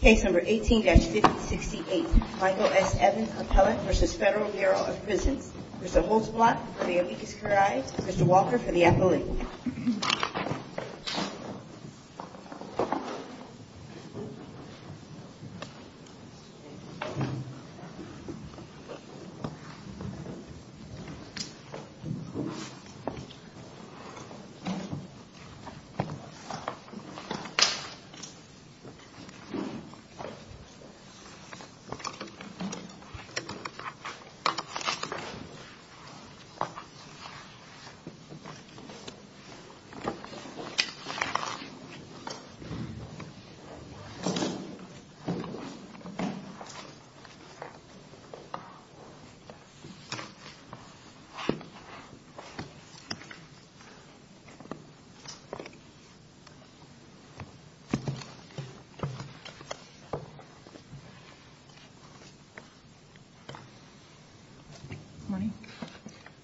Case number 18-568 Michael S. Evans Appellate v. Federal Bureau of Prisons. Mr. Holzblatt for the amicus curiae, Mr. Walker for the affiliate. The case number 18-568 is a case of a defendant, Mr. Walker, who is a former member of the Federal Bureau of Prisons.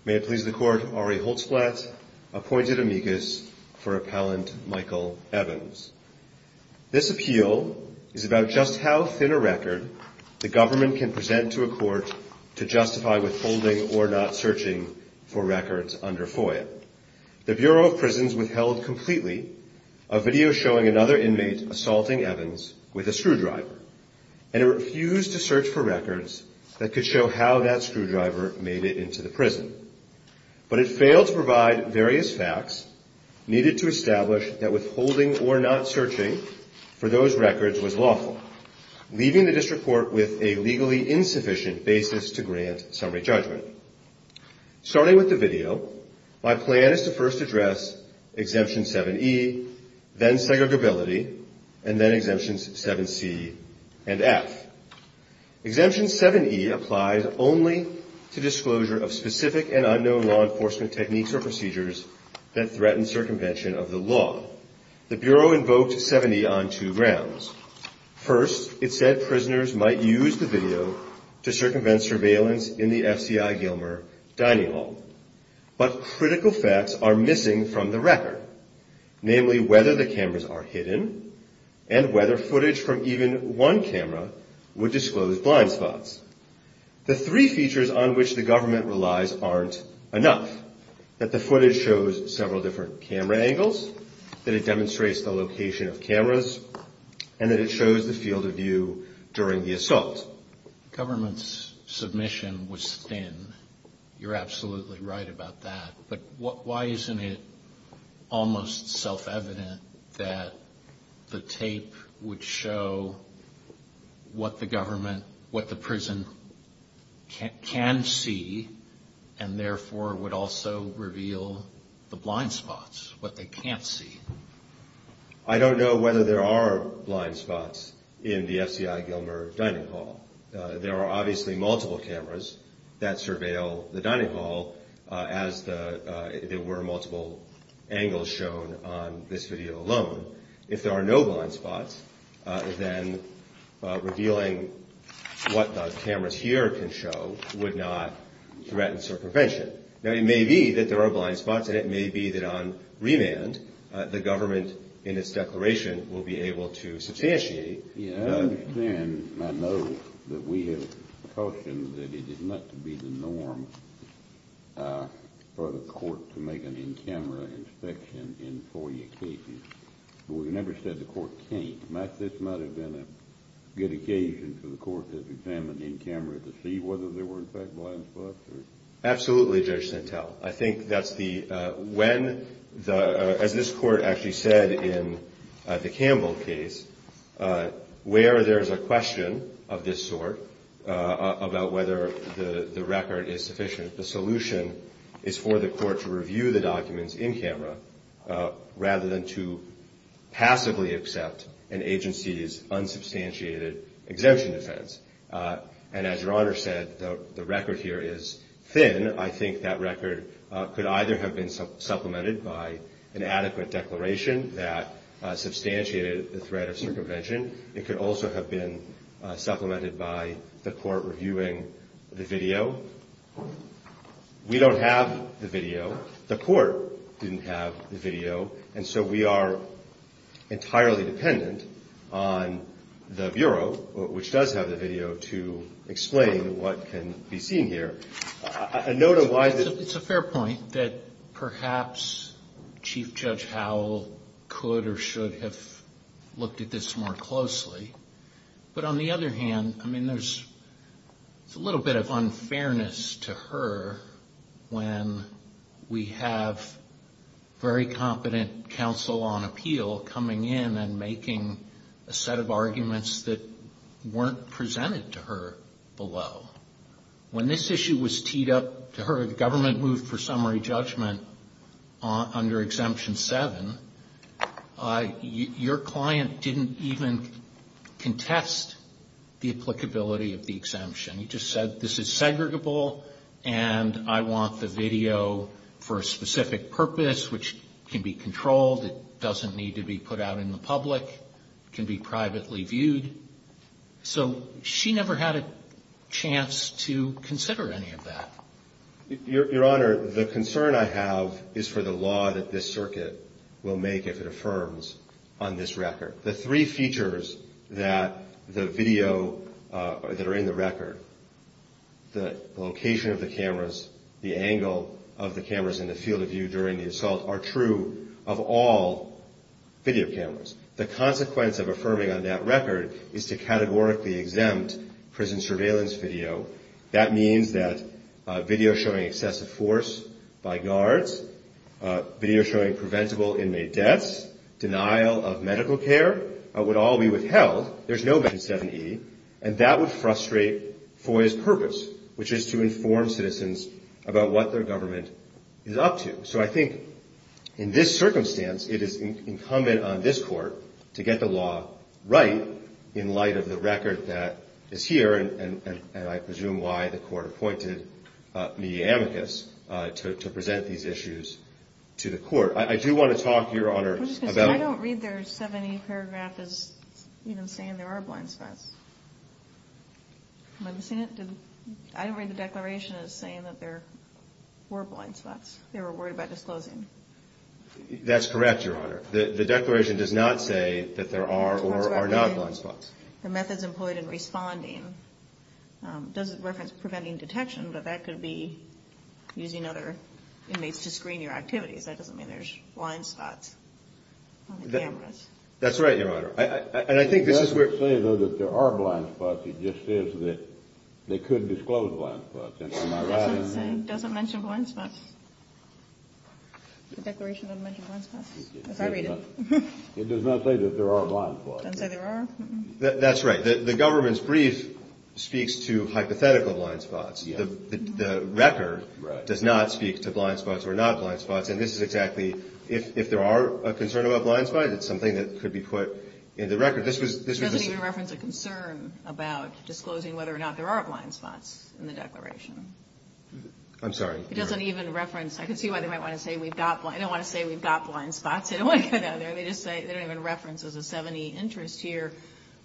May it please the Court, Ari Holzblatt appointed amicus for appellant Michael Evans. This appeal is about just how thin a record the government can present to a court to justify withholding or not searching for records under FOIA. The Bureau of Prisons withheld completely a video showing another inmate assaulting Evans with a screwdriver, and it refused to search for records that could show how that screwdriver made it into the prison. But it failed to provide various facts needed to establish that withholding or not searching for those records was lawful, leaving the District Court with a legally insufficient basis to grant summary judgment. Starting with the video, my plan is to first address Exemption 7E, then segregability, and then Exemptions 7C and F. Exemption 7E applies only to disclosure of specific and unknown law enforcement techniques or procedures that threaten circumvention of the law. The Bureau invoked 7E on two grounds. First, it said prisoners might use the video to circumvent surveillance in the F.C.I. Gilmer dining hall. But critical facts are missing from the record, namely whether the cameras are hidden and whether footage from even one camera would disclose blind spots. The three features on which the government relies aren't enough, that the footage shows several different camera angles, that it demonstrates the location of cameras, and that it shows the field of view during the assault. The government's submission was thin. You're absolutely right about that. But why isn't it almost self-evident that the tape would show what the government, what the prison can see, and therefore would also reveal the blind spots, what they can't see? I don't know whether there are blind spots in the F.C.I. Gilmer dining hall. There are obviously multiple cameras that surveil the dining hall, as there were multiple angles shown on this video alone. If there are no blind spots, then revealing what the cameras here can show would not threaten circumvention. Now, it may be that there are blind spots, and it may be that on remand, the government, in its declaration, will be able to substantiate. I understand and I know that we have cautioned that it is not to be the norm for the court to make an in-camera inspection in FOIA cases, but we've never said the court can't. Matt, this might have been a good occasion for the court to examine in-camera to see whether there were, in fact, blind spots. Absolutely, Judge Sintel. I think that's the, when the, as this court actually said in the Campbell case, where there's a question of this sort about whether the record is sufficient, the solution is for the court to review the documents in-camera rather than to passively accept an agency's unsubstantiated exemption defense. And as Your Honor said, the record here is thin. I think that record could either have been supplemented by an adequate declaration that substantiated the threat of circumvention. It could also have been supplemented by the court reviewing the video. We don't have the video. The court didn't have the video. And so we are entirely dependent on the Bureau, which does have the video, to explain what can be seen here. A note of why the It's a fair point that perhaps Chief Judge Howell could or should have looked at this more closely. But on the other hand, I mean, there's a little bit of unfairness to her when we have very competent counsel on appeal coming in and making a set of arguments that weren't presented to her below. When this issue was teed up to her, the government moved for summary judgment under Exemption 7, your client didn't even contest the applicability of the exemption. He just said, this is segregable and I want the video for a specific purpose, which can be controlled. It doesn't need to be put out in the public. It can be privately viewed. So she never had a chance to consider any of that. is to categorically exempt prison surveillance video. That means that video showing excessive force by guards, video showing preventable inmate deaths, denial of medical care would all be withheld. And that would frustrate FOIA's purpose, which is to inform citizens about what their government is up to. So I think in this circumstance, it is incumbent on this court to get the law right in light of the record that is here and I presume why the court appointed media amicus to present these issues to the court. I do want to talk, your honor, about... I don't read their 70 paragraph as even saying there are blind spots. I don't read the declaration as saying that there were blind spots. They were worried about disclosing. That's correct, your honor. The declaration does not say that there are or are not blind spots. The methods employed in responding doesn't reference preventing detection, but that could be using other inmates to screen your activities. That doesn't mean there's blind spots on the cameras. That's right, your honor. And I think this is where... It doesn't say, though, that there are blind spots. It just says that they could disclose blind spots. It doesn't mention blind spots? The declaration doesn't mention blind spots? As I read it. It does not say that there are blind spots. It doesn't say there are? That's right. The government's brief speaks to hypothetical blind spots. The record does not speak to blind spots or not blind spots. And this is exactly, if there are a concern about blind spots, it's something that could be put in the record. It doesn't even reference a concern about disclosing whether or not there are blind spots in the declaration. I'm sorry? It doesn't even reference, I can see why they might want to say we've got blind, they don't want to say we've got blind spots. They don't want to get out of there. They just say, they don't even reference as a 7E interest here,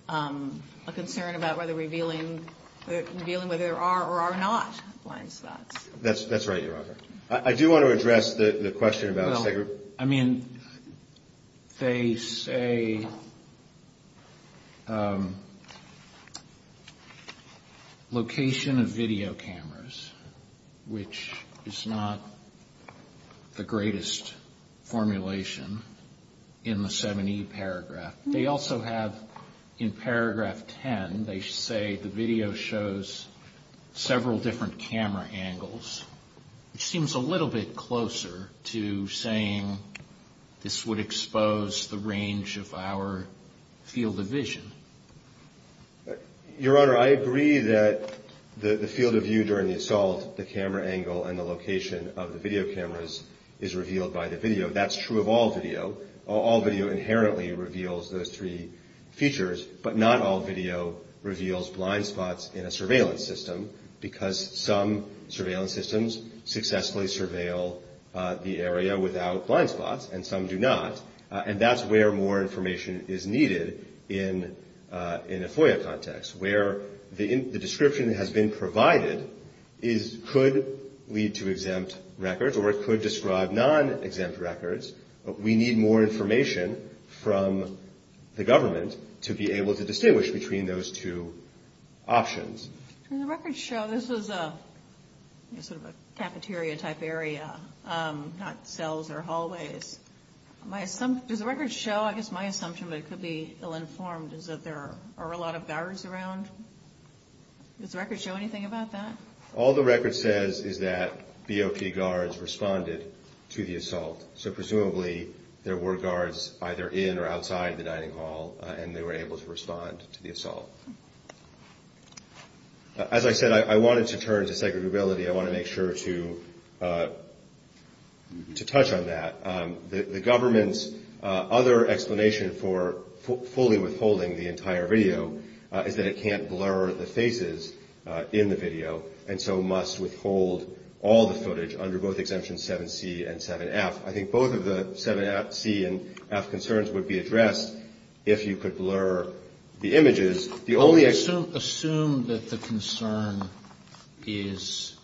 a concern about whether revealing, revealing whether there are or are not blind spots. That's right, your honor. I do want to address the question about... I mean, they say location of video cameras, which is not the greatest formulation in the 7E paragraph. They also have in paragraph 10, they say the video shows several different camera angles, which seems a little bit closer to saying this would expose the range of our field of vision. Your honor, I agree that the field of view during the assault, the camera angle and the location of the video cameras is revealed by the video. That's true of all video. All video inherently reveals those three features, but not all video reveals blind spots in a surveillance system, because some surveillance systems successfully surveil the area without blind spots, and some do not. And that's where more information is needed in a FOIA context, where the description that has been provided could lead to exempt records, or it could describe non-exempt records. We need more information from the government to be able to distinguish between those two options. Does the record show, I guess my assumption, but it could be ill-informed, is that there are a lot of guards around? Does the record show anything about that? All the record says is that BOP guards responded to the assault, so presumably there were guards either in or outside the dining hall, and they were able to respond to the assault. As I said, I wanted to turn to segregability. I want to make sure to touch on that. The government's other explanation for fully withholding the entire video is that it can't blur the faces in the video, and so must withhold all the footage under both Exemption 7C and 7F. I think both of the 7C and 7F concerns would be addressed if you could blur the images. Assume that the concern is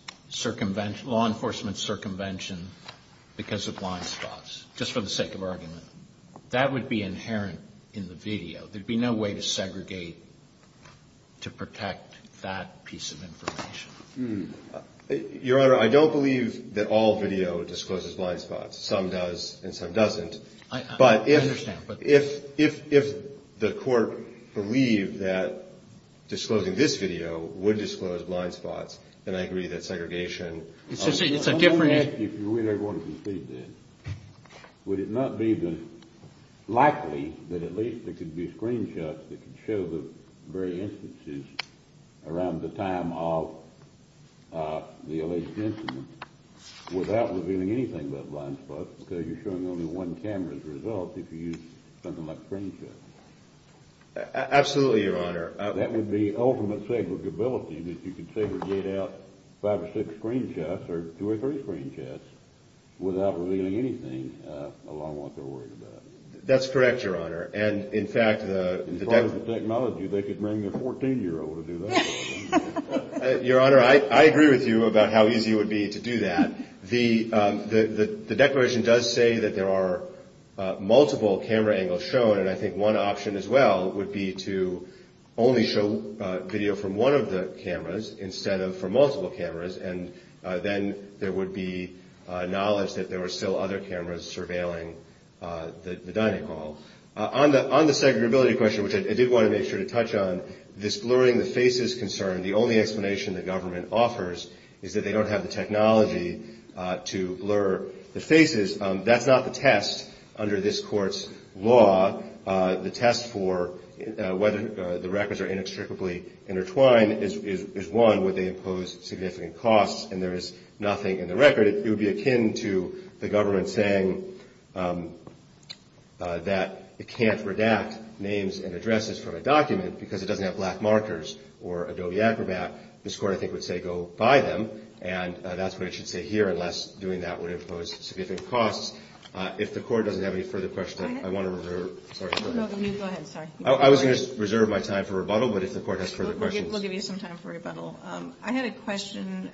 law enforcement circumvention because of blind spots, just for the sake of argument. That would be inherent in the video. There would be no way to segregate to protect that piece of information. Your Honor, I don't believe that all video discloses blind spots. Some does and some doesn't. I understand. If the court believed that disclosing this video would disclose blind spots, then I agree that segregation… It's a different… If you really want to proceed, then, would it not be likely that at least there could be screenshots that could show the very instances around the time of the alleged incident without revealing anything about blind spots? Because you're showing only one camera's results if you use something like screenshots. Absolutely, Your Honor. That would be ultimate segregability that you could segregate out five or six screenshots or two or three screenshots without revealing anything along what they're worried about. That's correct, Your Honor. And, in fact, the… In terms of technology, they could bring their 14-year-old to do that. Your Honor, I agree with you about how easy it would be to do that. The declaration does say that there are multiple camera angles shown, and I think one option as well would be to only show video from one of the cameras instead of from multiple cameras, and then there would be knowledge that there were still other cameras surveilling the dining hall. On the segregability question, which I did want to make sure to touch on, this blurring the faces concern, the only explanation the government offers is that they don't have the technology to blur the faces. That's not the test under this Court's law. The test for whether the records are inextricably intertwined is, one, would they impose significant costs, and there is nothing in the record. It would be akin to the government saying that it can't redact names and addresses from a document because it doesn't have black markers or Adobe Acrobat. This Court, I think, would say go buy them, and that's what it should say here unless doing that would impose significant costs. If the Court doesn't have any further questions, I want to reserve… Go ahead. Sorry. I was going to reserve my time for rebuttal, but if the Court has further questions… We'll give you some time for rebuttal. I had a question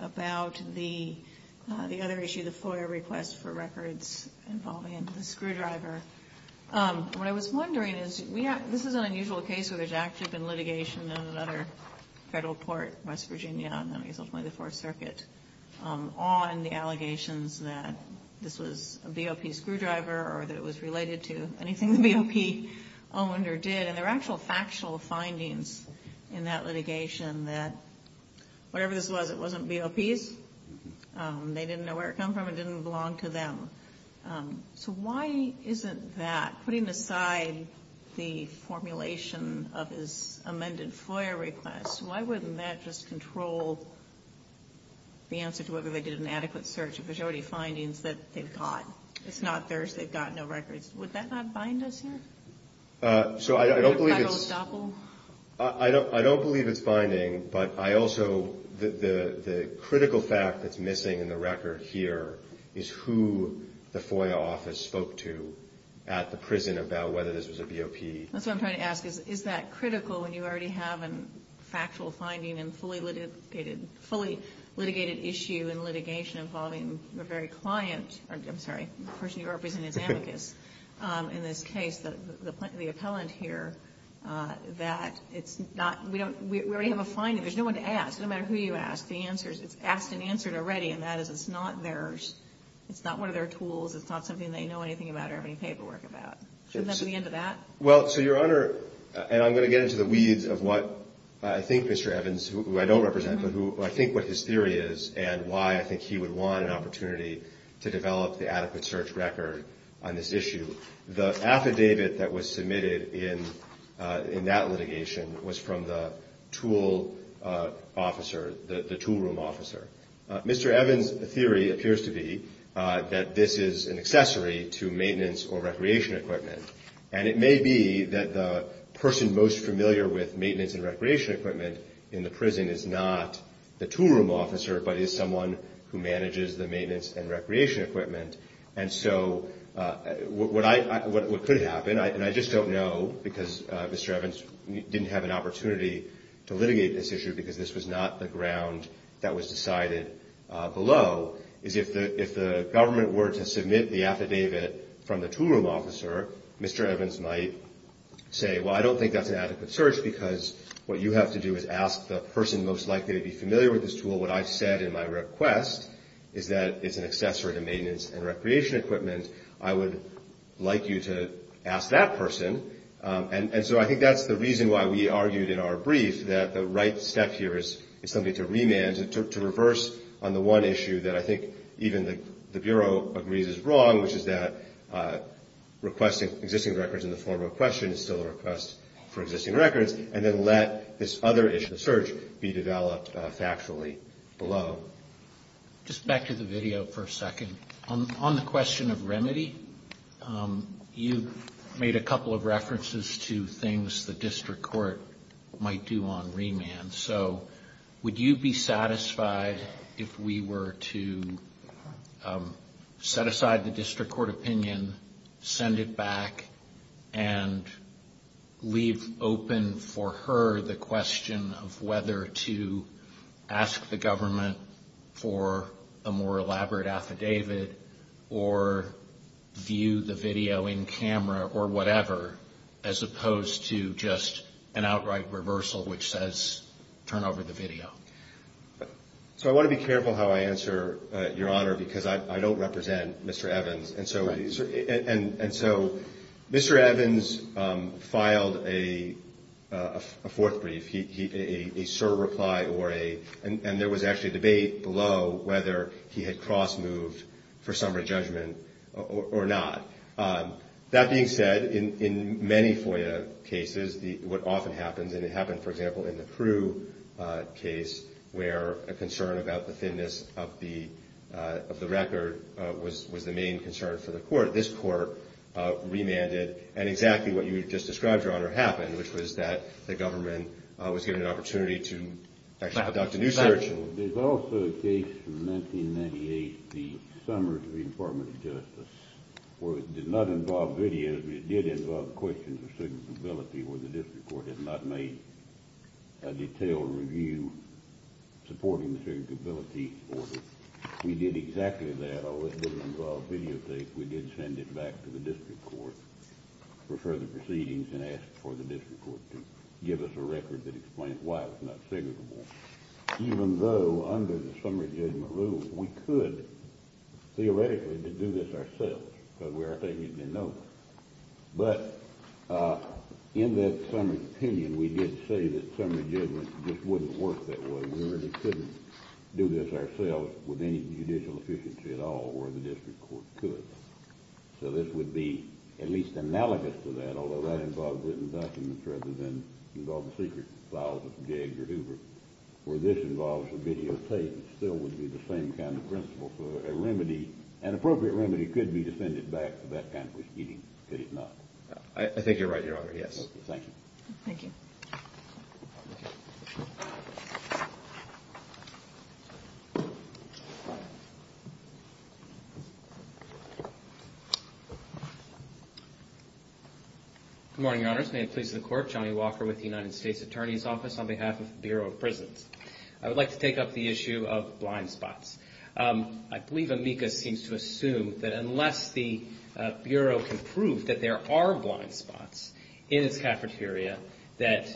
about the other issue, the FOIA request for records involving the screwdriver. What I was wondering is, this is an unusual case where there's actually been litigation in another federal court, West Virginia, and I guess ultimately the Fourth Circuit, on the allegations that this was a BOP screwdriver or that it was related to anything the BOP owner did. And there are actual factual findings in that litigation that whatever this was, it wasn't BOP's. They didn't know where it came from. It didn't belong to them. So why isn't that, putting aside the formulation of this amended FOIA request, why wouldn't that just control the answer to whether they did an adequate search? There's already findings that they've got. It's not theirs. They've got no records. Would that not bind us here? So I don't believe it's… Federal estoppel? I don't believe it's binding, but I also, the critical fact that's missing in the record here is who the FOIA office spoke to at the prison about whether this was a BOP. That's what I'm trying to ask is, is that critical when you already have a factual finding and fully litigated issue in litigation involving the very client, I'm sorry, the person you represent is amicus in this case, the appellant here, that it's not, we already have a finding. There's no one to ask. No matter who you ask, the answer is, it's asked and answered already, and that is it's not theirs. It's not one of their tools. It's not something they know anything about or have any paperwork about. Shouldn't that be the end of that? Well, so Your Honor, and I'm going to get into the weeds of what I think Mr. Evans, who I don't represent, but who I think what his theory is and why I think he would want an opportunity to develop the adequate search record on this issue. The affidavit that was submitted in that litigation was from the tool officer, the tool room officer. Mr. Evans' theory appears to be that this is an accessory to maintenance or recreation equipment, and it may be that the person most familiar with maintenance and recreation equipment in the prison is not the tool room officer but is someone who manages the maintenance and recreation equipment. And so what could happen, and I just don't know because Mr. Evans didn't have an opportunity to litigate this issue because this was not the ground that was decided below, is if the government were to submit the affidavit from the tool room officer, Mr. Evans might say, well, I don't think that's an adequate search because what you have to do is ask the person most likely to be familiar with this tool. What I've said in my request is that it's an accessory to maintenance and recreation equipment. I would like you to ask that person. And so I think that's the reason why we argued in our brief that the right step here is something to remand, to reverse on the one issue that I think even the Bureau agrees is wrong, which is that requesting existing records in the form of a question is still a request for existing records, and then let this other issue of search be developed factually below. Just back to the video for a second. On the question of remedy, you made a couple of references to things the district court might do on remand. So would you be satisfied if we were to set aside the district court opinion, send it back and leave open for her the question of whether to ask the government for a more elaborate affidavit or view the video in camera or whatever, as opposed to just an outright reversal which says turn over the video? So I want to be careful how I answer, Your Honor, because I don't represent Mr. Evans. And so Mr. Evans filed a fourth brief, a surreply or a — and there was actually a debate below whether he had cross-moved for summary judgment or not. That being said, in many FOIA cases, what often happens, and it happened, for example, in the Crewe case, where a concern about the thinness of the record was the main concern for the court, this court remanded and exactly what you just described, Your Honor, happened, which was that the government was given an opportunity to actually conduct a new search. Well, there's also a case from 1998, the Summers v. Department of Justice, where it did not involve video, but it did involve questions of segregability where the district court had not made a detailed review supporting the segregability order. We did exactly that. Although it didn't involve videotape, we did send it back to the district court for further proceedings and asked for the district court to give us a record that explains why it was not segregable. Even though, under the summary judgment rule, we could theoretically do this ourselves, because we are taking it in notes. But in that summary opinion, we did say that summary judgment just wouldn't work that way. We really couldn't do this ourselves with any judicial efficiency at all where the district court could. So this would be at least analogous to that, although that involved written documents rather than involved secret files of Jeg or Hoover. Where this involves videotape, it still would be the same kind of principle. So a remedy, an appropriate remedy, could be to send it back for that kind of proceeding. Could it not? I think you're right, Your Honor, yes. Thank you. Thank you. Good morning, Your Honors. May it please the Court. Johnny Walker with the United States Attorney's Office on behalf of the Bureau of Prisons. I would like to take up the issue of blind spots. I believe Amica seems to assume that unless the Bureau can prove that there are blind spots in its cafeteria, that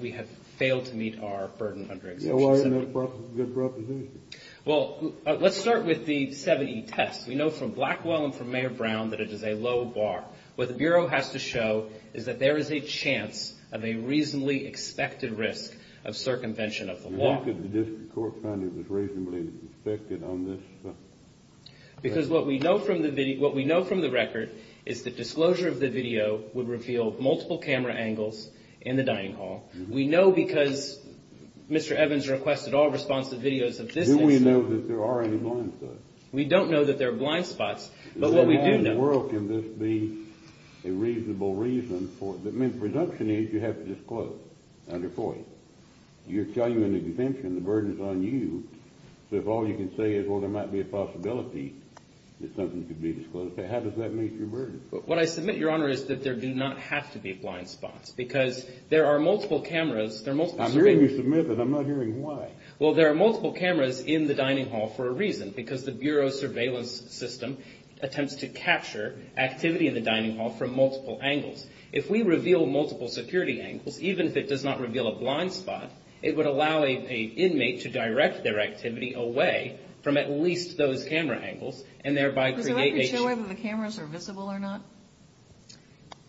we have failed to meet our burden under Exemption 7E. Yeah, why isn't that a good proposition? Well, let's start with the 7E test. We know from Blackwell and from Mayor Brown that it is a low bar. What the Bureau has to show is that there is a chance of a reasonably expected risk of circumvention of the law. How could the district court find it was reasonably expected on this? Because what we know from the record is that disclosure of the video would reveal multiple camera angles in the dining hall. We know because Mr. Evans requested all responsive videos of this. Do we know that there are any blind spots? We don't know that there are blind spots, but what we do know – In the world, can this be a reasonable reason for – I mean, the presumption is you have to disclose under FOIA. You're telling me under Exemption, the burden is on you. So if all you can say is, well, there might be a possibility that something could be disclosed, how does that meet your burden? What I submit, Your Honor, is that there do not have to be blind spots because there are multiple cameras. I'm hearing you submit, but I'm not hearing why. Well, there are multiple cameras in the dining hall for a reason, because the Bureau's surveillance system attempts to capture activity in the dining hall from multiple angles. If we reveal multiple security angles, even if it does not reveal a blind spot, it would allow an inmate to direct their activity away from at least those camera angles and thereby create a – Does the record show whether the cameras are visible or not?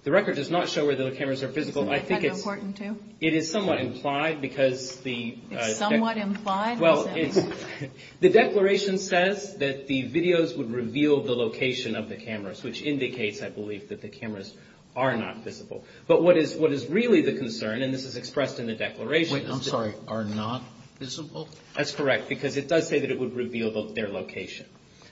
The record does not show whether the cameras are visible. I think it's – Is it kind of important to? It is somewhat implied because the – It's somewhat implied? Well, the declaration says that the videos would reveal the location of the cameras, which indicates, I believe, that the cameras are not visible. But what is really the concern, and this is expressed in the declaration – Wait, I'm sorry. Are not visible? That's correct, because it does say that it would reveal their location.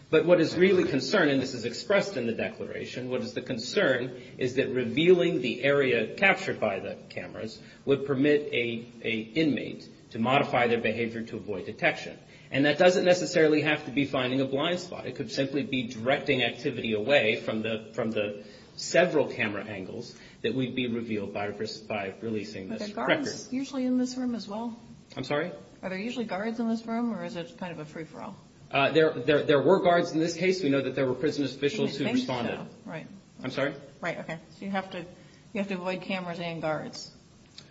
But what is really concerned, and this is expressed in the declaration, what is the concern is that revealing the area captured by the cameras would permit an inmate to modify their behavior to avoid detection. And that doesn't necessarily have to be finding a blind spot. It could simply be directing activity away from the several camera angles that would be revealed by releasing this record. Are there guards usually in this room as well? I'm sorry? Are there usually guards in this room, or is it kind of a free-for-all? There were guards in this case. We know that there were prison officials who responded. Right. I'm sorry? Right, okay. So you have to avoid cameras and guards.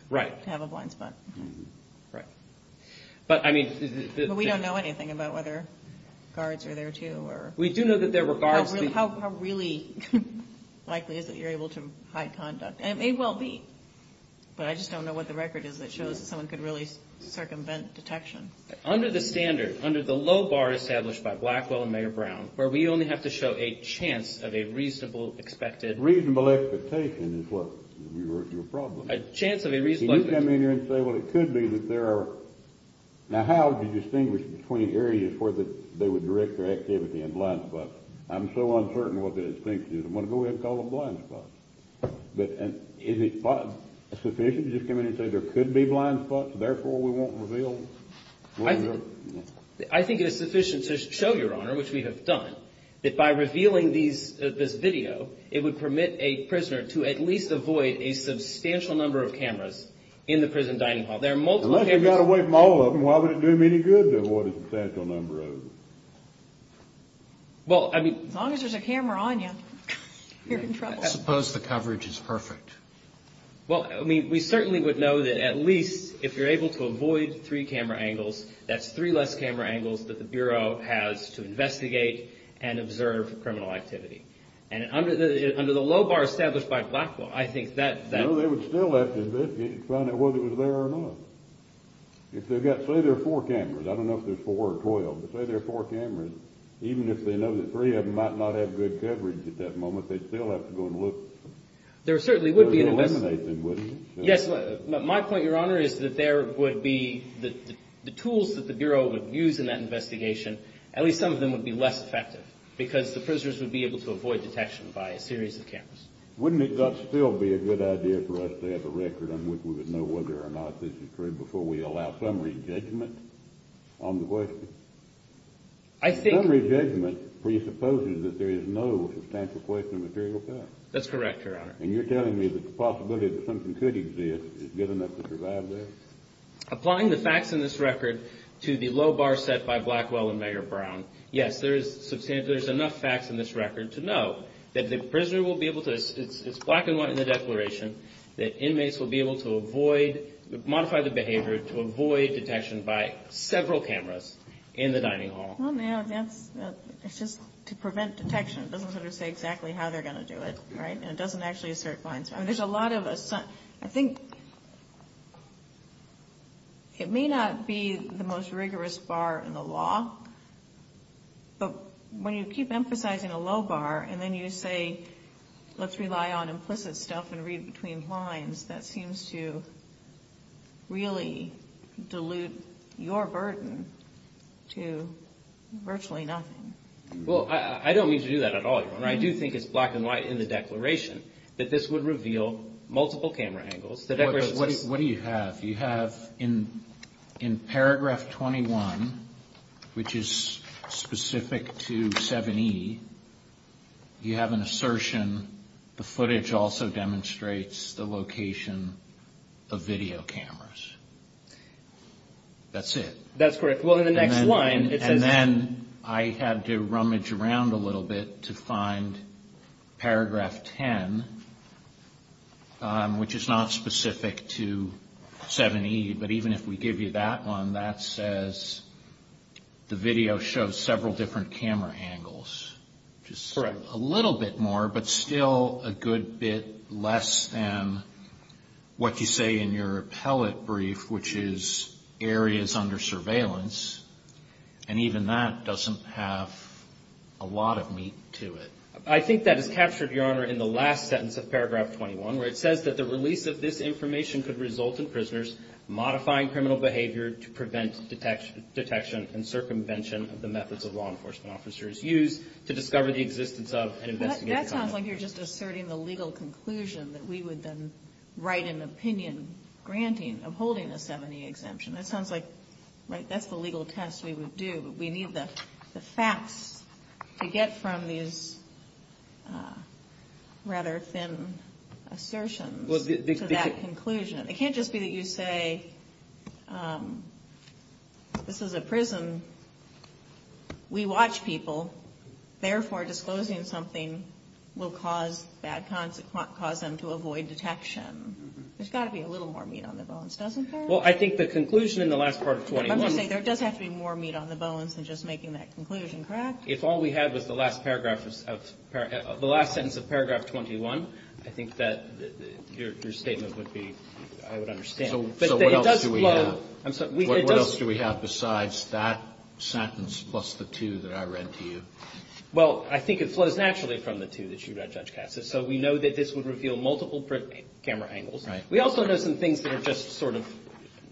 Right. To have a blind spot. Right. But, I mean – But we don't know anything about whether guards are there, too, or – We do know that there were guards. How really likely is it you're able to hide conduct? It may well be, but I just don't know what the record is that shows that someone could really circumvent detection. Under the standard, under the low bar established by Blackwell and Mayor Brown, where we only have to show a chance of a reasonable expected – Reasonable expectation is what we refer to a problem. A chance of a reasonable – Can you come in here and say, well, it could be that there are – Now, how would you distinguish between areas where they would direct their activity and blind spots? I'm so uncertain what the distinction is. I'm going to go ahead and call them blind spots. But is it sufficient to just come in here and say there could be blind spots, therefore we won't reveal? I think it is sufficient to show, Your Honor, which we have done, that by revealing this video, it would permit a prisoner to at least avoid a substantial number of cameras in the prison dining hall. There are multiple cameras – Unless you got away from all of them, why would it do them any good to avoid a substantial number of them? Well, I mean – As long as there's a camera on you, you're in trouble. I suppose the coverage is perfect. Well, I mean, we certainly would know that at least if you're able to avoid three camera angles, that's three less camera angles that the Bureau has to investigate and observe criminal activity. And under the low bar established by Blackwell, I think that – No, they would still have to investigate and find out whether it was there or not. If they've got – say there are four cameras. I don't know if there's four or 12, but say there are four cameras, even if they know that three of them might not have good coverage at that moment, they'd still have to go and look. There certainly would be an – It would eliminate them, wouldn't it? Yes. My point, Your Honor, is that there would be – the tools that the Bureau would use in that investigation, at least some of them would be less effective because the prisoners would be able to avoid detection by a series of cameras. Wouldn't it still be a good idea for us to have a record on which we would know whether or not this is true before we allow summary judgment on the question? I think – Summary judgment presupposes that there is no substantial question of material facts. That's correct, Your Honor. And you're telling me that the possibility that something could exist is good enough to survive that? Applying the facts in this record to the low bar set by Blackwell and Meagher-Brown, yes, there is – there's enough facts in this record to know that the prisoner will be able to – it's black and white in the declaration that inmates will be able to avoid – modify the behavior to avoid detection by several cameras in the dining hall. Well, no, that's – it's just to prevent detection. It doesn't sort of say exactly how they're going to do it, right? And it doesn't actually assert fines. I mean, there's a lot of – I think it may not be the most rigorous bar in the law, but when you keep emphasizing a low bar and then you say, let's rely on implicit stuff and read between lines, that seems to really dilute your burden to virtually nothing. Well, I don't mean to do that at all, Your Honor. I do think it's black and white in the declaration that this would reveal multiple camera angles. What do you have? You have in paragraph 21, which is specific to 7E, you have an assertion, the footage also demonstrates the location of video cameras. That's it. That's correct. And then I had to rummage around a little bit to find paragraph 10, which is not specific to 7E, but even if we give you that one, that says the video shows several different camera angles. Correct. Just a little bit more, but still a good bit less than what you say in your appellate brief, which is areas under surveillance, and even that doesn't have a lot of meat to it. I think that is captured, Your Honor, in the last sentence of paragraph 21, where it says that the release of this information could result in prisoners modifying criminal behavior to prevent detection and circumvention of the methods of law enforcement officers used to discover the existence of an investigative company. That sounds like you're just asserting the legal conclusion that we would then write an opinion granting of holding a 7E exemption. That sounds like, right, that's the legal test we would do, but we need the facts to get from these rather thin assertions to that conclusion. It can't just be that you say this is a prison. We watch people. Therefore, disclosing something will cause bad consequences, cause them to avoid detection. There's got to be a little more meat on the bones, doesn't there? Well, I think the conclusion in the last part of 21. I'm just saying there does have to be more meat on the bones than just making that conclusion. Correct? If all we had was the last paragraph, the last sentence of paragraph 21, I think that your statement would be, I would understand. So what else do we have? What else do we have besides that sentence plus the two that I read to you? Well, I think it flows naturally from the two that you read, Judge Katz. So we know that this would reveal multiple camera angles. Right. We also know some things that are just sort of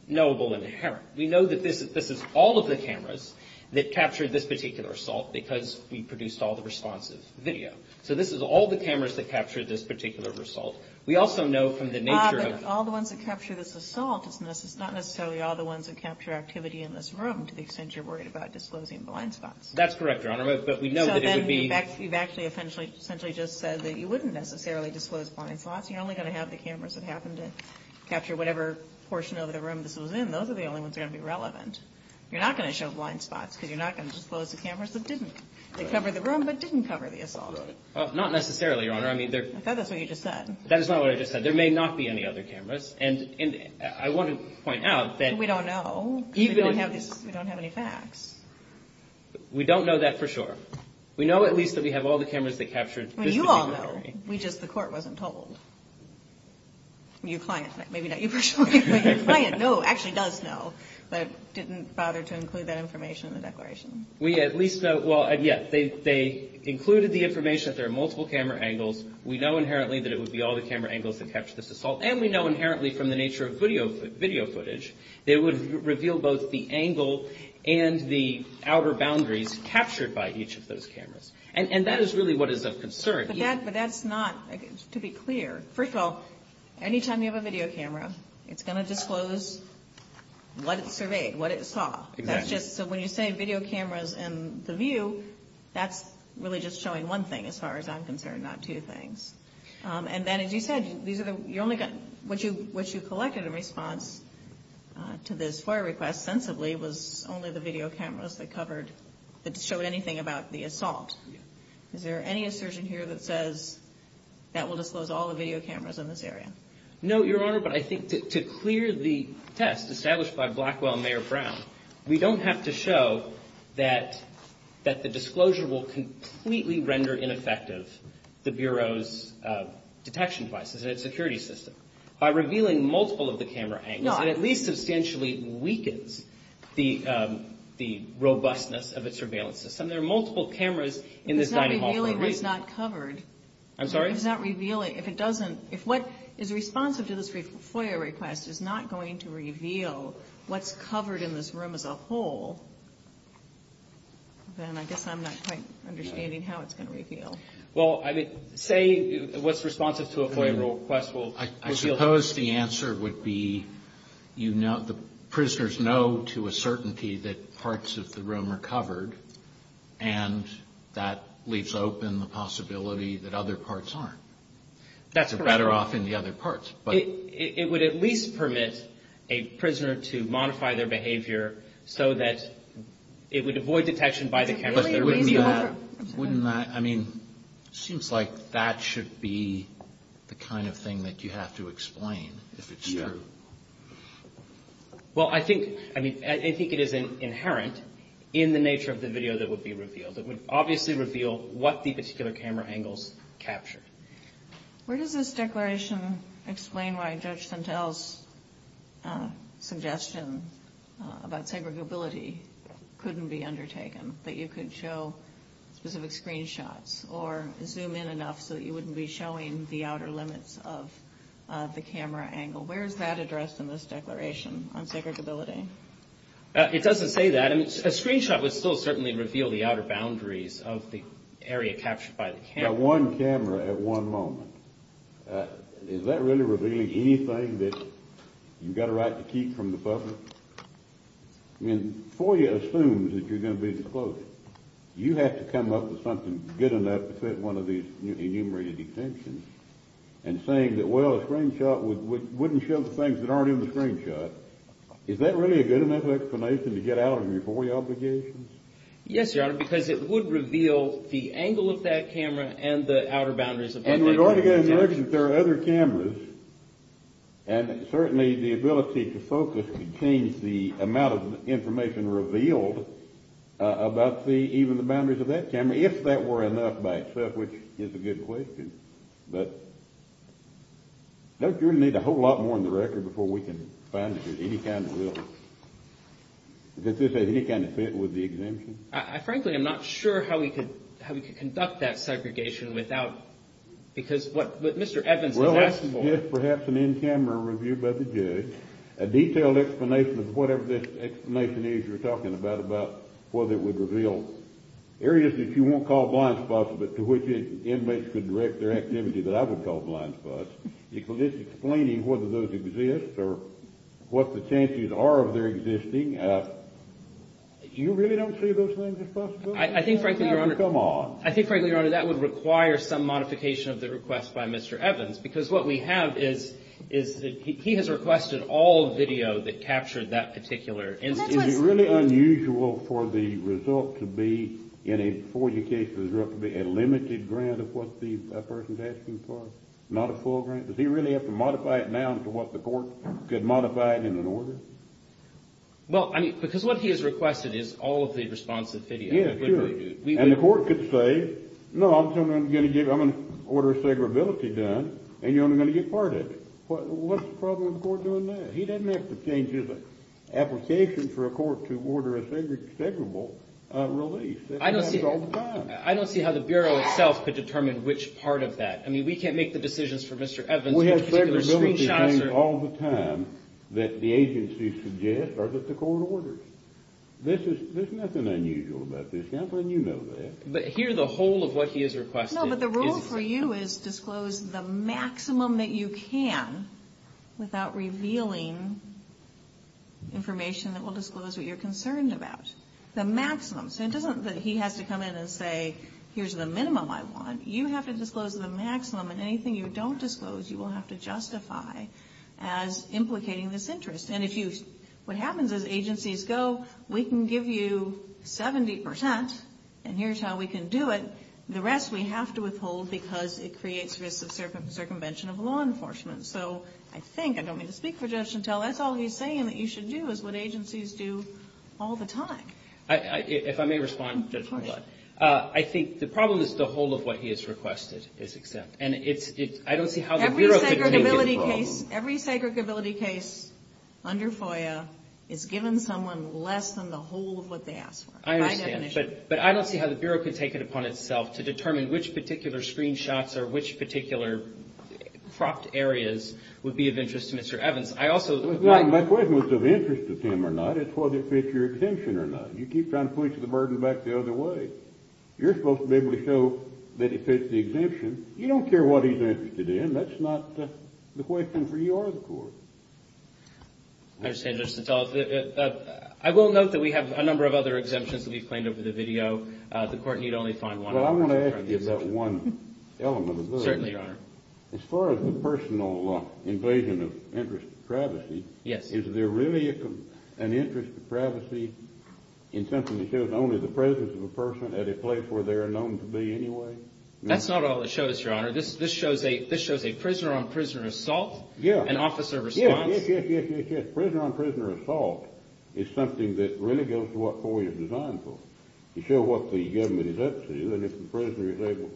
knowable and inherent. We know that this is all of the cameras that captured this particular assault because we produced all the responsive video. So this is all the cameras that captured this particular assault. We also know from the nature of it. But all the ones that capture this assault, it's not necessarily all the ones that capture activity in this room to the extent you're worried about disclosing blind spots. That's correct, Your Honor, but we know that it would be. You've actually essentially just said that you wouldn't necessarily disclose blind spots. You're only going to have the cameras that happened to capture whatever portion of the room this was in. Those are the only ones that are going to be relevant. You're not going to show blind spots because you're not going to disclose the cameras that didn't cover the room but didn't cover the assault. Not necessarily, Your Honor. I thought that's what you just said. That is not what I just said. There may not be any other cameras. And I want to point out that. We don't know. We don't have any facts. We don't know that for sure. We know at least that we have all the cameras that captured this. Well, you all know. We just, the court wasn't told. Your client, maybe not you personally, but your client knows, actually does know, but didn't bother to include that information in the declaration. We at least know, well, yes, they included the information that there are multiple camera angles. We know inherently that it would be all the camera angles that capture this assault. And we know inherently from the nature of video footage, it would reveal both the angle and the outer boundaries captured by each of those cameras. And that is really what is of concern. But that's not, to be clear, first of all, anytime you have a video camera, it's going to disclose what it surveyed, what it saw. Exactly. That's just, so when you say video cameras and the view, that's really just showing one thing as far as I'm concerned, not two things. And then, as you said, these are the, you only got, what you collected in response to this FOIA request, sensibly, was only the video cameras that covered, that showed anything about the assault. Is there any assertion here that says that will disclose all the video cameras in this area? No, Your Honor, but I think to clear the test established by Blackwell and Mayor Brown, we don't have to show that the disclosure will completely render ineffective the Bureau's detection devices and its security system. By revealing multiple of the camera angles, it at least substantially weakens the robustness of its surveillance system. There are multiple cameras in this dining hall for a reason. It's not revealing what's not covered. I'm sorry? It's not revealing, if it doesn't, if what is responsive to this FOIA request is not going to reveal what's covered in this room as a whole, then I guess I'm not quite understanding how it's going to reveal. Well, say what's responsive to a FOIA request will reveal. I suppose the answer would be, you know, the prisoners know to a certainty that parts of the room are covered, and that leaves open the possibility that other parts aren't. That's a better off in the other parts, but... It would at least permit a prisoner to modify their behavior so that it would avoid detection by the camera. But wouldn't that, I mean, it seems like that should be the kind of thing that you have to explain if it's true. Yeah. Well, I think, I mean, I think it is inherent in the nature of the video that would be revealed. It would obviously reveal what the particular camera angles capture. Where does this declaration explain why Judge Santel's suggestion about segregability couldn't be undertaken, that you could show specific screenshots or zoom in enough so that you wouldn't be showing the outer limits of the camera angle? Where is that addressed in this declaration on segregability? It doesn't say that. A screenshot would still certainly reveal the outer boundaries of the area captured by the camera. But one camera at one moment. Is that really revealing anything that you've got a right to keep from the public? I mean, FOIA assumes that you're going to be disclosed. You have to come up with something good enough to fit one of these enumerated exemptions and saying that, well, a screenshot wouldn't show the things that aren't in the screenshot. But is that really a good enough explanation to get out of your FOIA obligations? Yes, Your Honor, because it would reveal the angle of that camera and the outer boundaries of that camera. And we're going to get a direction that there are other cameras, and certainly the ability to focus could change the amount of information revealed about even the boundaries of that camera, if that were enough by itself, which is a good question. But don't you really need a whole lot more in the record before we can find that there's any kind of will? Does this have any kind of fit with the exemption? Frankly, I'm not sure how we could conduct that segregation without – because what Mr. Evans is asking for – Well, perhaps an in-camera review by the judge, a detailed explanation of whatever this explanation is you're talking about, about whether it would reveal areas that you won't call blind spots but to which inmates could direct their activity that I would call blind spots. It's explaining whether those exist or what the chances are of their existing. You really don't see those things as possible? I think, frankly, Your Honor – Come on. I think, frankly, Your Honor, that would require some modification of the request by Mr. Evans because what we have is he has requested all video that captured that particular instance. Is it really unusual for the result to be, in a four-year case, a limited grant of what the person's asking for, not a full grant? Does he really have to modify it now to what the court could modify it in an order? Well, I mean, because what he has requested is all of the responsive video. Yeah, sure. And the court could say, no, I'm going to order segregability done, and you're only going to get part of it. What's the problem with the court doing that? He doesn't have to change his application for a court to order a segregable release. That happens all the time. I don't see how the Bureau itself could determine which part of that. I mean, we can't make the decisions for Mr. Evans. We have segregability claims all the time that the agency suggests or that the court orders. There's nothing unusual about this. How can you know that? But here, the whole of what he has requested is – information that will disclose what you're concerned about. The maximum. So it doesn't that he has to come in and say, here's the minimum I want. You have to disclose the maximum, and anything you don't disclose, you will have to justify as implicating this interest. And if you – what happens is agencies go, we can give you 70 percent, and here's how we can do it. The rest we have to withhold because it creates risks of circumvention of law enforcement. So I think – I don't mean to speak for Judge Chantel. That's all he's saying that you should do is what agencies do all the time. If I may respond, Judge, I think the problem is the whole of what he has requested is exempt. And it's – I don't see how the Bureau could – Every segregability case under FOIA is given someone less than the whole of what they asked for, by definition. I understand. But I don't see how the Bureau could take it upon itself to determine which particular screenshots or which particular cropped areas would be of interest to Mr. Evans. I also – My question was of interest to him or not. It's whether it fits your exemption or not. You keep trying to push the burden back the other way. You're supposed to be able to show that it fits the exemption. You don't care what he's interested in. That's not the question for you or the Court. I understand, Judge Chantel. I will note that we have a number of other exemptions that we've claimed over the video. The Court need only find one. Well, I want to ask you about one element of those. Certainly, Your Honor. As far as the personal invasion of interest to privacy, is there really an interest to privacy in something that shows only the presence of a person at a place where they are known to be anyway? That's not all it shows, Your Honor. This shows a prisoner-on-prisoner assault and officer response. Yes, yes, yes. Prisoner-on-prisoner assault is something that really goes to what FOIA is designed for. You show what the government is up to, and if the prisoner is able,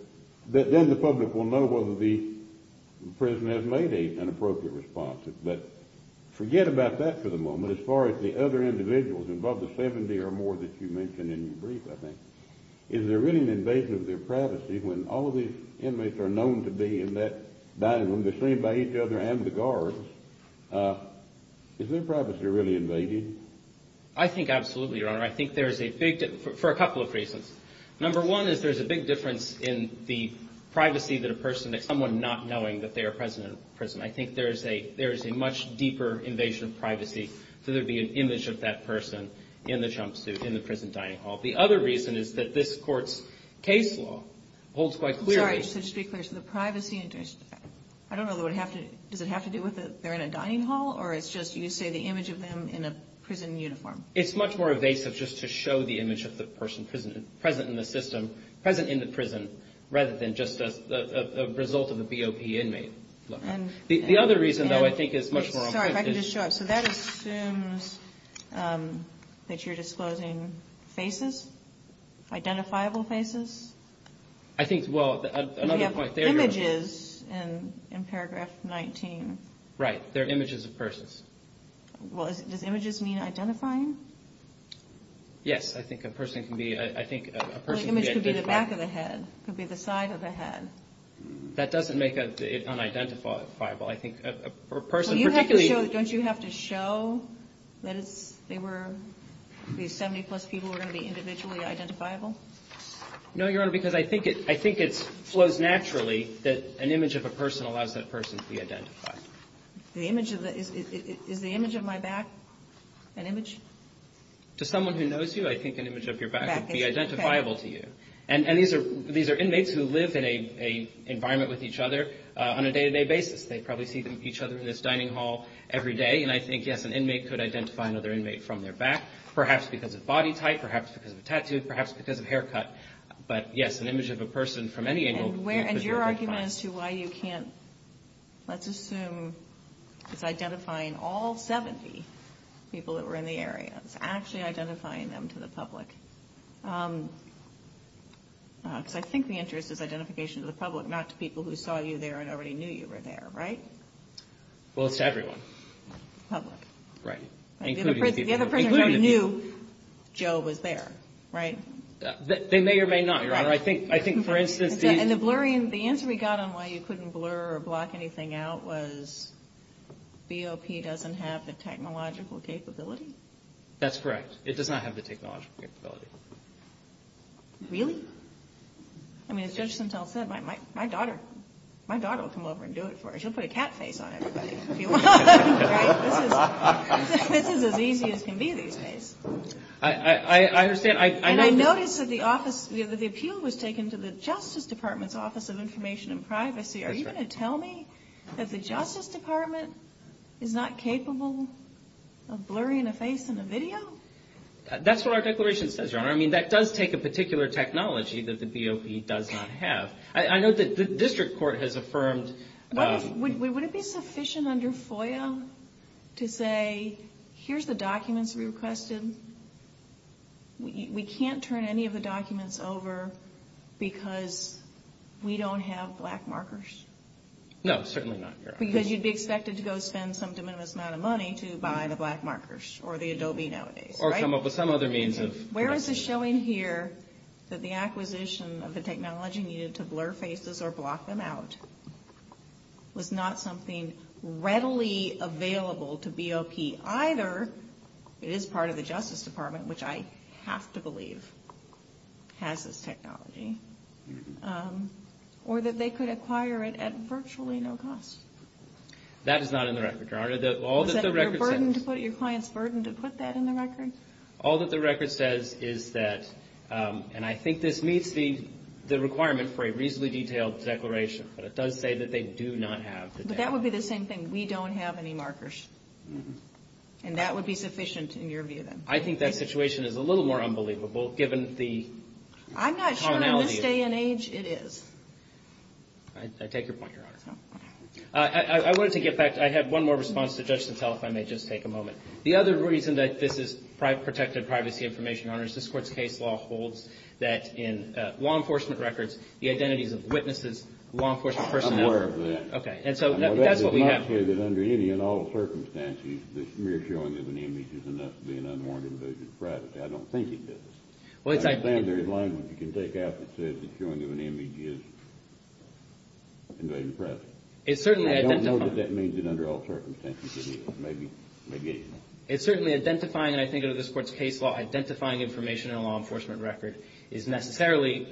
then the public will know whether the prisoner has made an appropriate response. But forget about that for the moment. As far as the other individuals involved, the 70 or more that you mentioned in your brief, I think, is there really an invasion of their privacy when all of these inmates are known to be in that dining room? They're seen by each other and the guards. Is their privacy really invaded? I think absolutely, Your Honor. I think there's a big, for a couple of reasons. Number one is there's a big difference in the privacy that a person, someone not knowing that they are present in prison. I think there is a much deeper invasion of privacy, so there would be an image of that person in the jumpsuit in the prison dining hall. The other reason is that this Court's case law holds quite clearly. I'm sorry. Just to be clear, so the privacy, I don't know, does it have to do with they're in a dining hall, or it's just you say the image of them in a prison uniform? It's much more evasive just to show the image of the person present in the system, present in the prison, rather than just a result of a BOP inmate. The other reason, though, I think is much more important. Sorry, if I could just show up. So that assumes that you're disclosing faces, identifiable faces? I think, well, another point there, Your Honor. We have images in paragraph 19. Right. They're images of persons. Well, does images mean identifying? Yes. I think a person can be identified. Well, the image could be the back of the head, could be the side of the head. That doesn't make it unidentifiable. I think a person particularly. Don't you have to show that it's, they were, these 70-plus people were going to be individually identifiable? No, Your Honor, because I think it flows naturally that an image of a person allows that person to be identified. The image of the, is the image of my back an image? To someone who knows you, I think an image of your back would be identifiable to you. And these are inmates who live in an environment with each other on a day-to-day basis. They probably see each other in this dining hall every day. And I think, yes, an inmate could identify another inmate from their back, perhaps because of body type, perhaps because of a tattoo, perhaps because of haircut. But, yes, an image of a person from any angle could be identified. And your argument as to why you can't, let's assume it's identifying all 70 people that were in the area, it's actually identifying them to the public. Because I think the interest is identification to the public, not to people who saw you there and already knew you were there, right? Well, it's to everyone. The public. Right. Including people. The other prisoners already knew Joe was there, right? They may or may not, Your Honor. I think, for instance, these. And the answer we got on why you couldn't blur or block anything out was BOP doesn't have the technological capability? That's correct. It does not have the technological capability. Really? I mean, as Judge Sintel said, my daughter will come over and do it for us. She'll put a cat face on everybody if you want. Right? This is as easy as can be these days. I understand. And I noticed that the appeal was taken to the Justice Department's Office of Information and Privacy. Are you going to tell me that the Justice Department is not capable of blurring a face in a video? That's what our declaration says, Your Honor. I mean, that does take a particular technology that the BOP does not have. I know the district court has affirmed. Would it be sufficient under FOIA to say, here's the documents we requested. We can't turn any of the documents over because we don't have black markers? No, certainly not, Your Honor. Because you'd be expected to go spend some de minimis amount of money to buy the black markers or the Adobe nowadays, right? Or some other means of. There is a showing here that the acquisition of the technology needed to blur faces or block them out was not something readily available to BOP. Either it is part of the Justice Department, which I have to believe has this technology, or that they could acquire it at virtually no cost. That is not in the record, Your Honor. Is that your client's burden to put that in the record? All that the record says is that, and I think this meets the requirement for a reasonably detailed declaration. But it does say that they do not have the technology. But that would be the same thing. We don't have any markers. And that would be sufficient in your view, then? I think that situation is a little more unbelievable, given the tonality. I'm not sure in this day and age it is. I take your point, Your Honor. I wanted to get back. I have one more response to Judge Sotelo, if I may just take a moment. The other reason that this is protected privacy information, Your Honor, is this Court's case law holds that in law enforcement records, the identities of witnesses, law enforcement personnel are... I'm aware of that. Okay. And so that's what we have here. I'm not saying that under any and all circumstances, the mere showing of an image is enough to be an unwarranted invasion of privacy. I don't think it is. Well, it's... I'm saying there is language you can take out that says the showing of an image is invasion of privacy. It's certainly identified... And I think under this Court's case law, identifying information in a law enforcement record is necessarily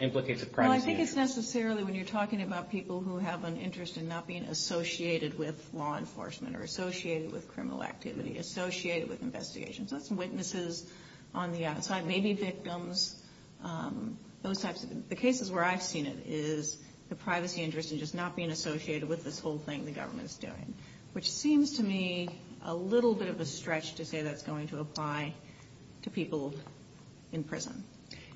implicative privacy. Well, I think it's necessarily when you're talking about people who have an interest in not being associated with law enforcement or associated with criminal activity, associated with investigations. That's witnesses on the outside, maybe victims, those types of things. The cases where I've seen it is the privacy interest in just not being associated with this whole thing the government is doing, which seems to me a little bit of a stretch to say that's going to apply to people in prison.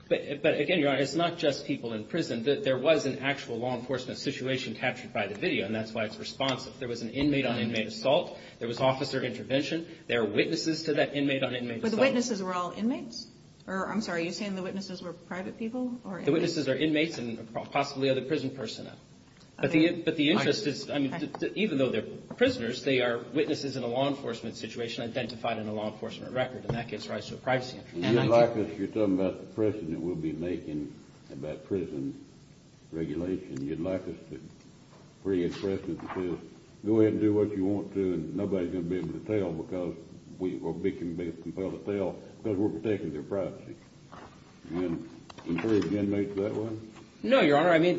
But, again, Your Honor, it's not just people in prison. There was an actual law enforcement situation captured by the video, and that's why it's responsive. There was an inmate on inmate assault. There was officer intervention. There are witnesses to that inmate on inmate assault. But the witnesses were all inmates? Or, I'm sorry, are you saying the witnesses were private people or inmates? The witnesses are inmates and possibly other prison personnel. But the interest is, I mean, even though they're prisoners, they are witnesses in a law enforcement situation identified in a law enforcement record, and that gives rise to a privacy interest. And you'd like us, you're talking about the precedent we'll be making about prison regulation, you'd like us to bring a precedent that says go ahead and do what you want to, and nobody's going to be able to tell because we'll be compelled to tell because we're protecting their privacy. And can three inmates do that one? No, Your Honor. I mean,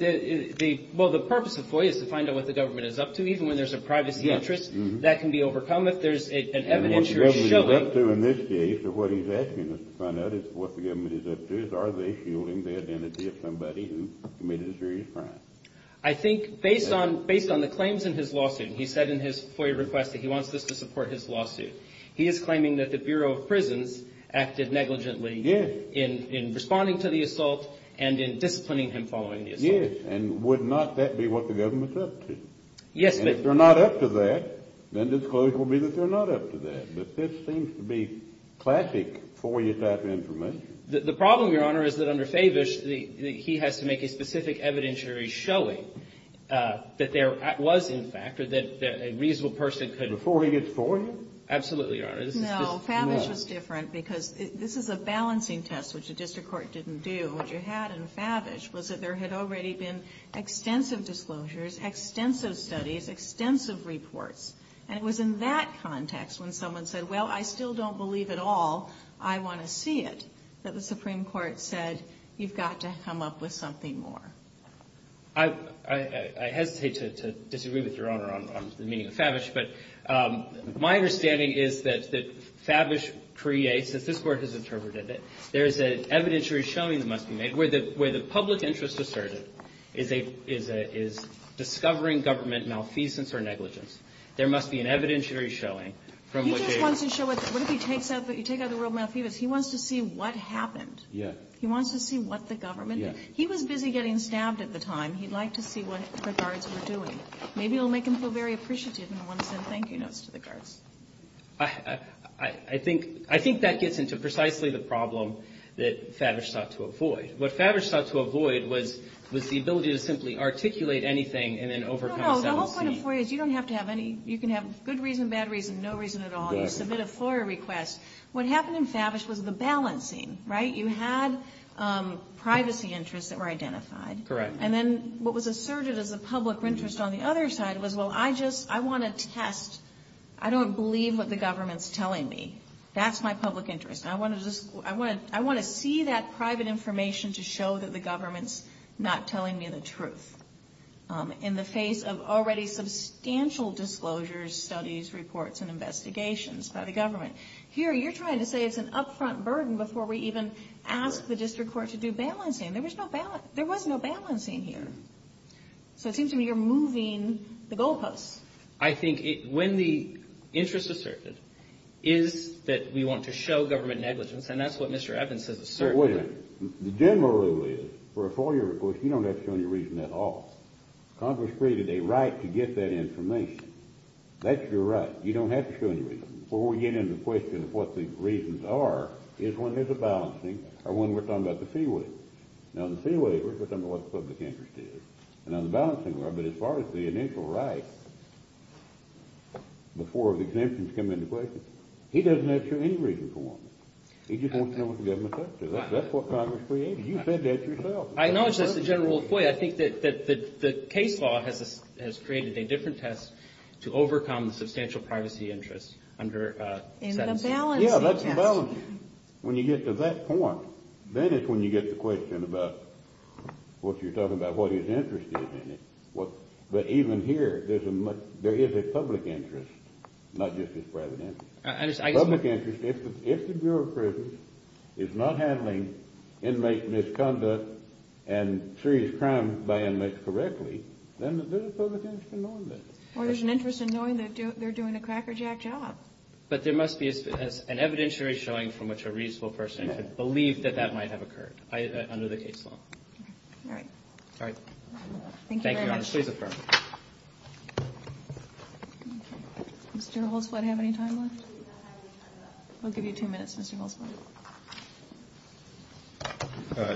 well, the purpose of FOIA is to find out what the government is up to. Even when there's a privacy interest, that can be overcome if there's an evidence you're showing. And what the government is up to in this case, or what he's asking us to find out is what the government is up to, is are they shielding the identity of somebody who committed a serious crime? I think based on the claims in his lawsuit, he said in his FOIA request that he wants us to support his lawsuit. He is claiming that the Bureau of Prisons acted negligently in responding to the assault and in disciplining him following the assault. Yes. And would not that be what the government's up to? Yes. And if they're not up to that, then the disclosure will be that they're not up to that. But this seems to be classic FOIA type information. The problem, Your Honor, is that under Favish, he has to make a specific evidentiary showing that there was, in fact, or that a reasonable person could. Before he gets FOIA? Absolutely, Your Honor. No, Favish was different because this is a balancing test, which the district court didn't do. And what you had in Favish was that there had already been extensive disclosures, extensive studies, extensive reports. And it was in that context when someone said, well, I still don't believe it all, I want to see it, that the Supreme Court said, you've got to come up with something more. I hesitate to disagree with Your Honor on the meaning of Favish, but my understanding is that Favish creates, as this Court has interpreted it, there is an evidentiary showing that must be made where the public interest asserted is discovering government malfeasance or negligence. There must be an evidentiary showing from which a ---- He just wants to show what if he takes out the word malfeasance. He wants to see what happened. He wants to see what the government did. He was busy getting stabbed at the time. He'd like to see what the guards were doing. Maybe it will make him feel very appreciated and want to send thank you notes to the guards. I think that gets into precisely the problem that Favish sought to avoid. What Favish sought to avoid was the ability to simply articulate anything and then overcome self-esteem. No, no, the whole point of FOIA is you don't have to have any, you can have good reason, bad reason, no reason at all. You submit a FOIA request. What happened in Favish was the balancing, right? You had privacy interests that were identified. Correct. And then what was asserted as a public interest on the other side was, well, I just, I want to test. I don't believe what the government's telling me. That's my public interest. I want to see that private information to show that the government's not telling me the truth. In the face of already substantial disclosures, studies, reports, and investigations by the government. Here, you're trying to say it's an upfront burden before we even ask the district court to do balancing. There was no balancing here. So it seems to me you're moving the goalposts. I think when the interest asserted is that we want to show government negligence, and that's what Mr. Evans has asserted. The general rule is, for a FOIA request, you don't have to show any reason at all. Congress created a right to get that information. That's your right. You don't have to show any reason. Before we get into the question of what the reasons are, is when there's a balancing or when we're talking about the fee waiver. Now, the fee waiver, we're talking about what the public interest is. Now, the balancing, as far as the initial right, before the exemptions come into question, he doesn't have to show any reason for them. He just wants to know what the government says to him. That's what Congress created. You said that yourself. I know it's just the general rule of FOIA. I think that the case law has created a different test to overcome the substantial privacy interest under the balancing test. Yeah, that's the balancing. When you get to that point, then it's when you get the question about what you're talking about, what his interest is in it. But even here, there is a public interest, not just his private interest. Public interest, if the Bureau of Prisons is not handling inmate misconduct and serious crime by inmates correctly, then there's a public interest in knowing that. Or there's an interest in knowing that they're doing a crackerjack job. But there must be an evidentiary showing from which a reasonable person could believe that that might have occurred under the case law. All right. All right. Thank you very much. Thank you, Your Honor. Please affirm. Mr. Holzblatt, do you have any time left? We'll give you two minutes, Mr. Holzblatt.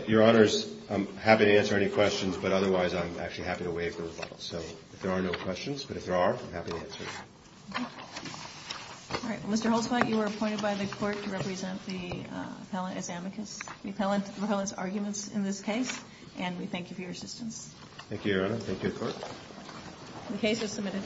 Your Honors, I'm happy to answer any questions, but otherwise I'm actually happy to waive the rebuttal. So if there are no questions, but if there are, I'm happy to answer. All right. Well, Mr. Holzblatt, you are appointed by the Court to represent the appellant as amicus. We appellants arguments in this case, and we thank you for your assistance. Thank you, Your Honor. Thank you, Court. The case is submitted.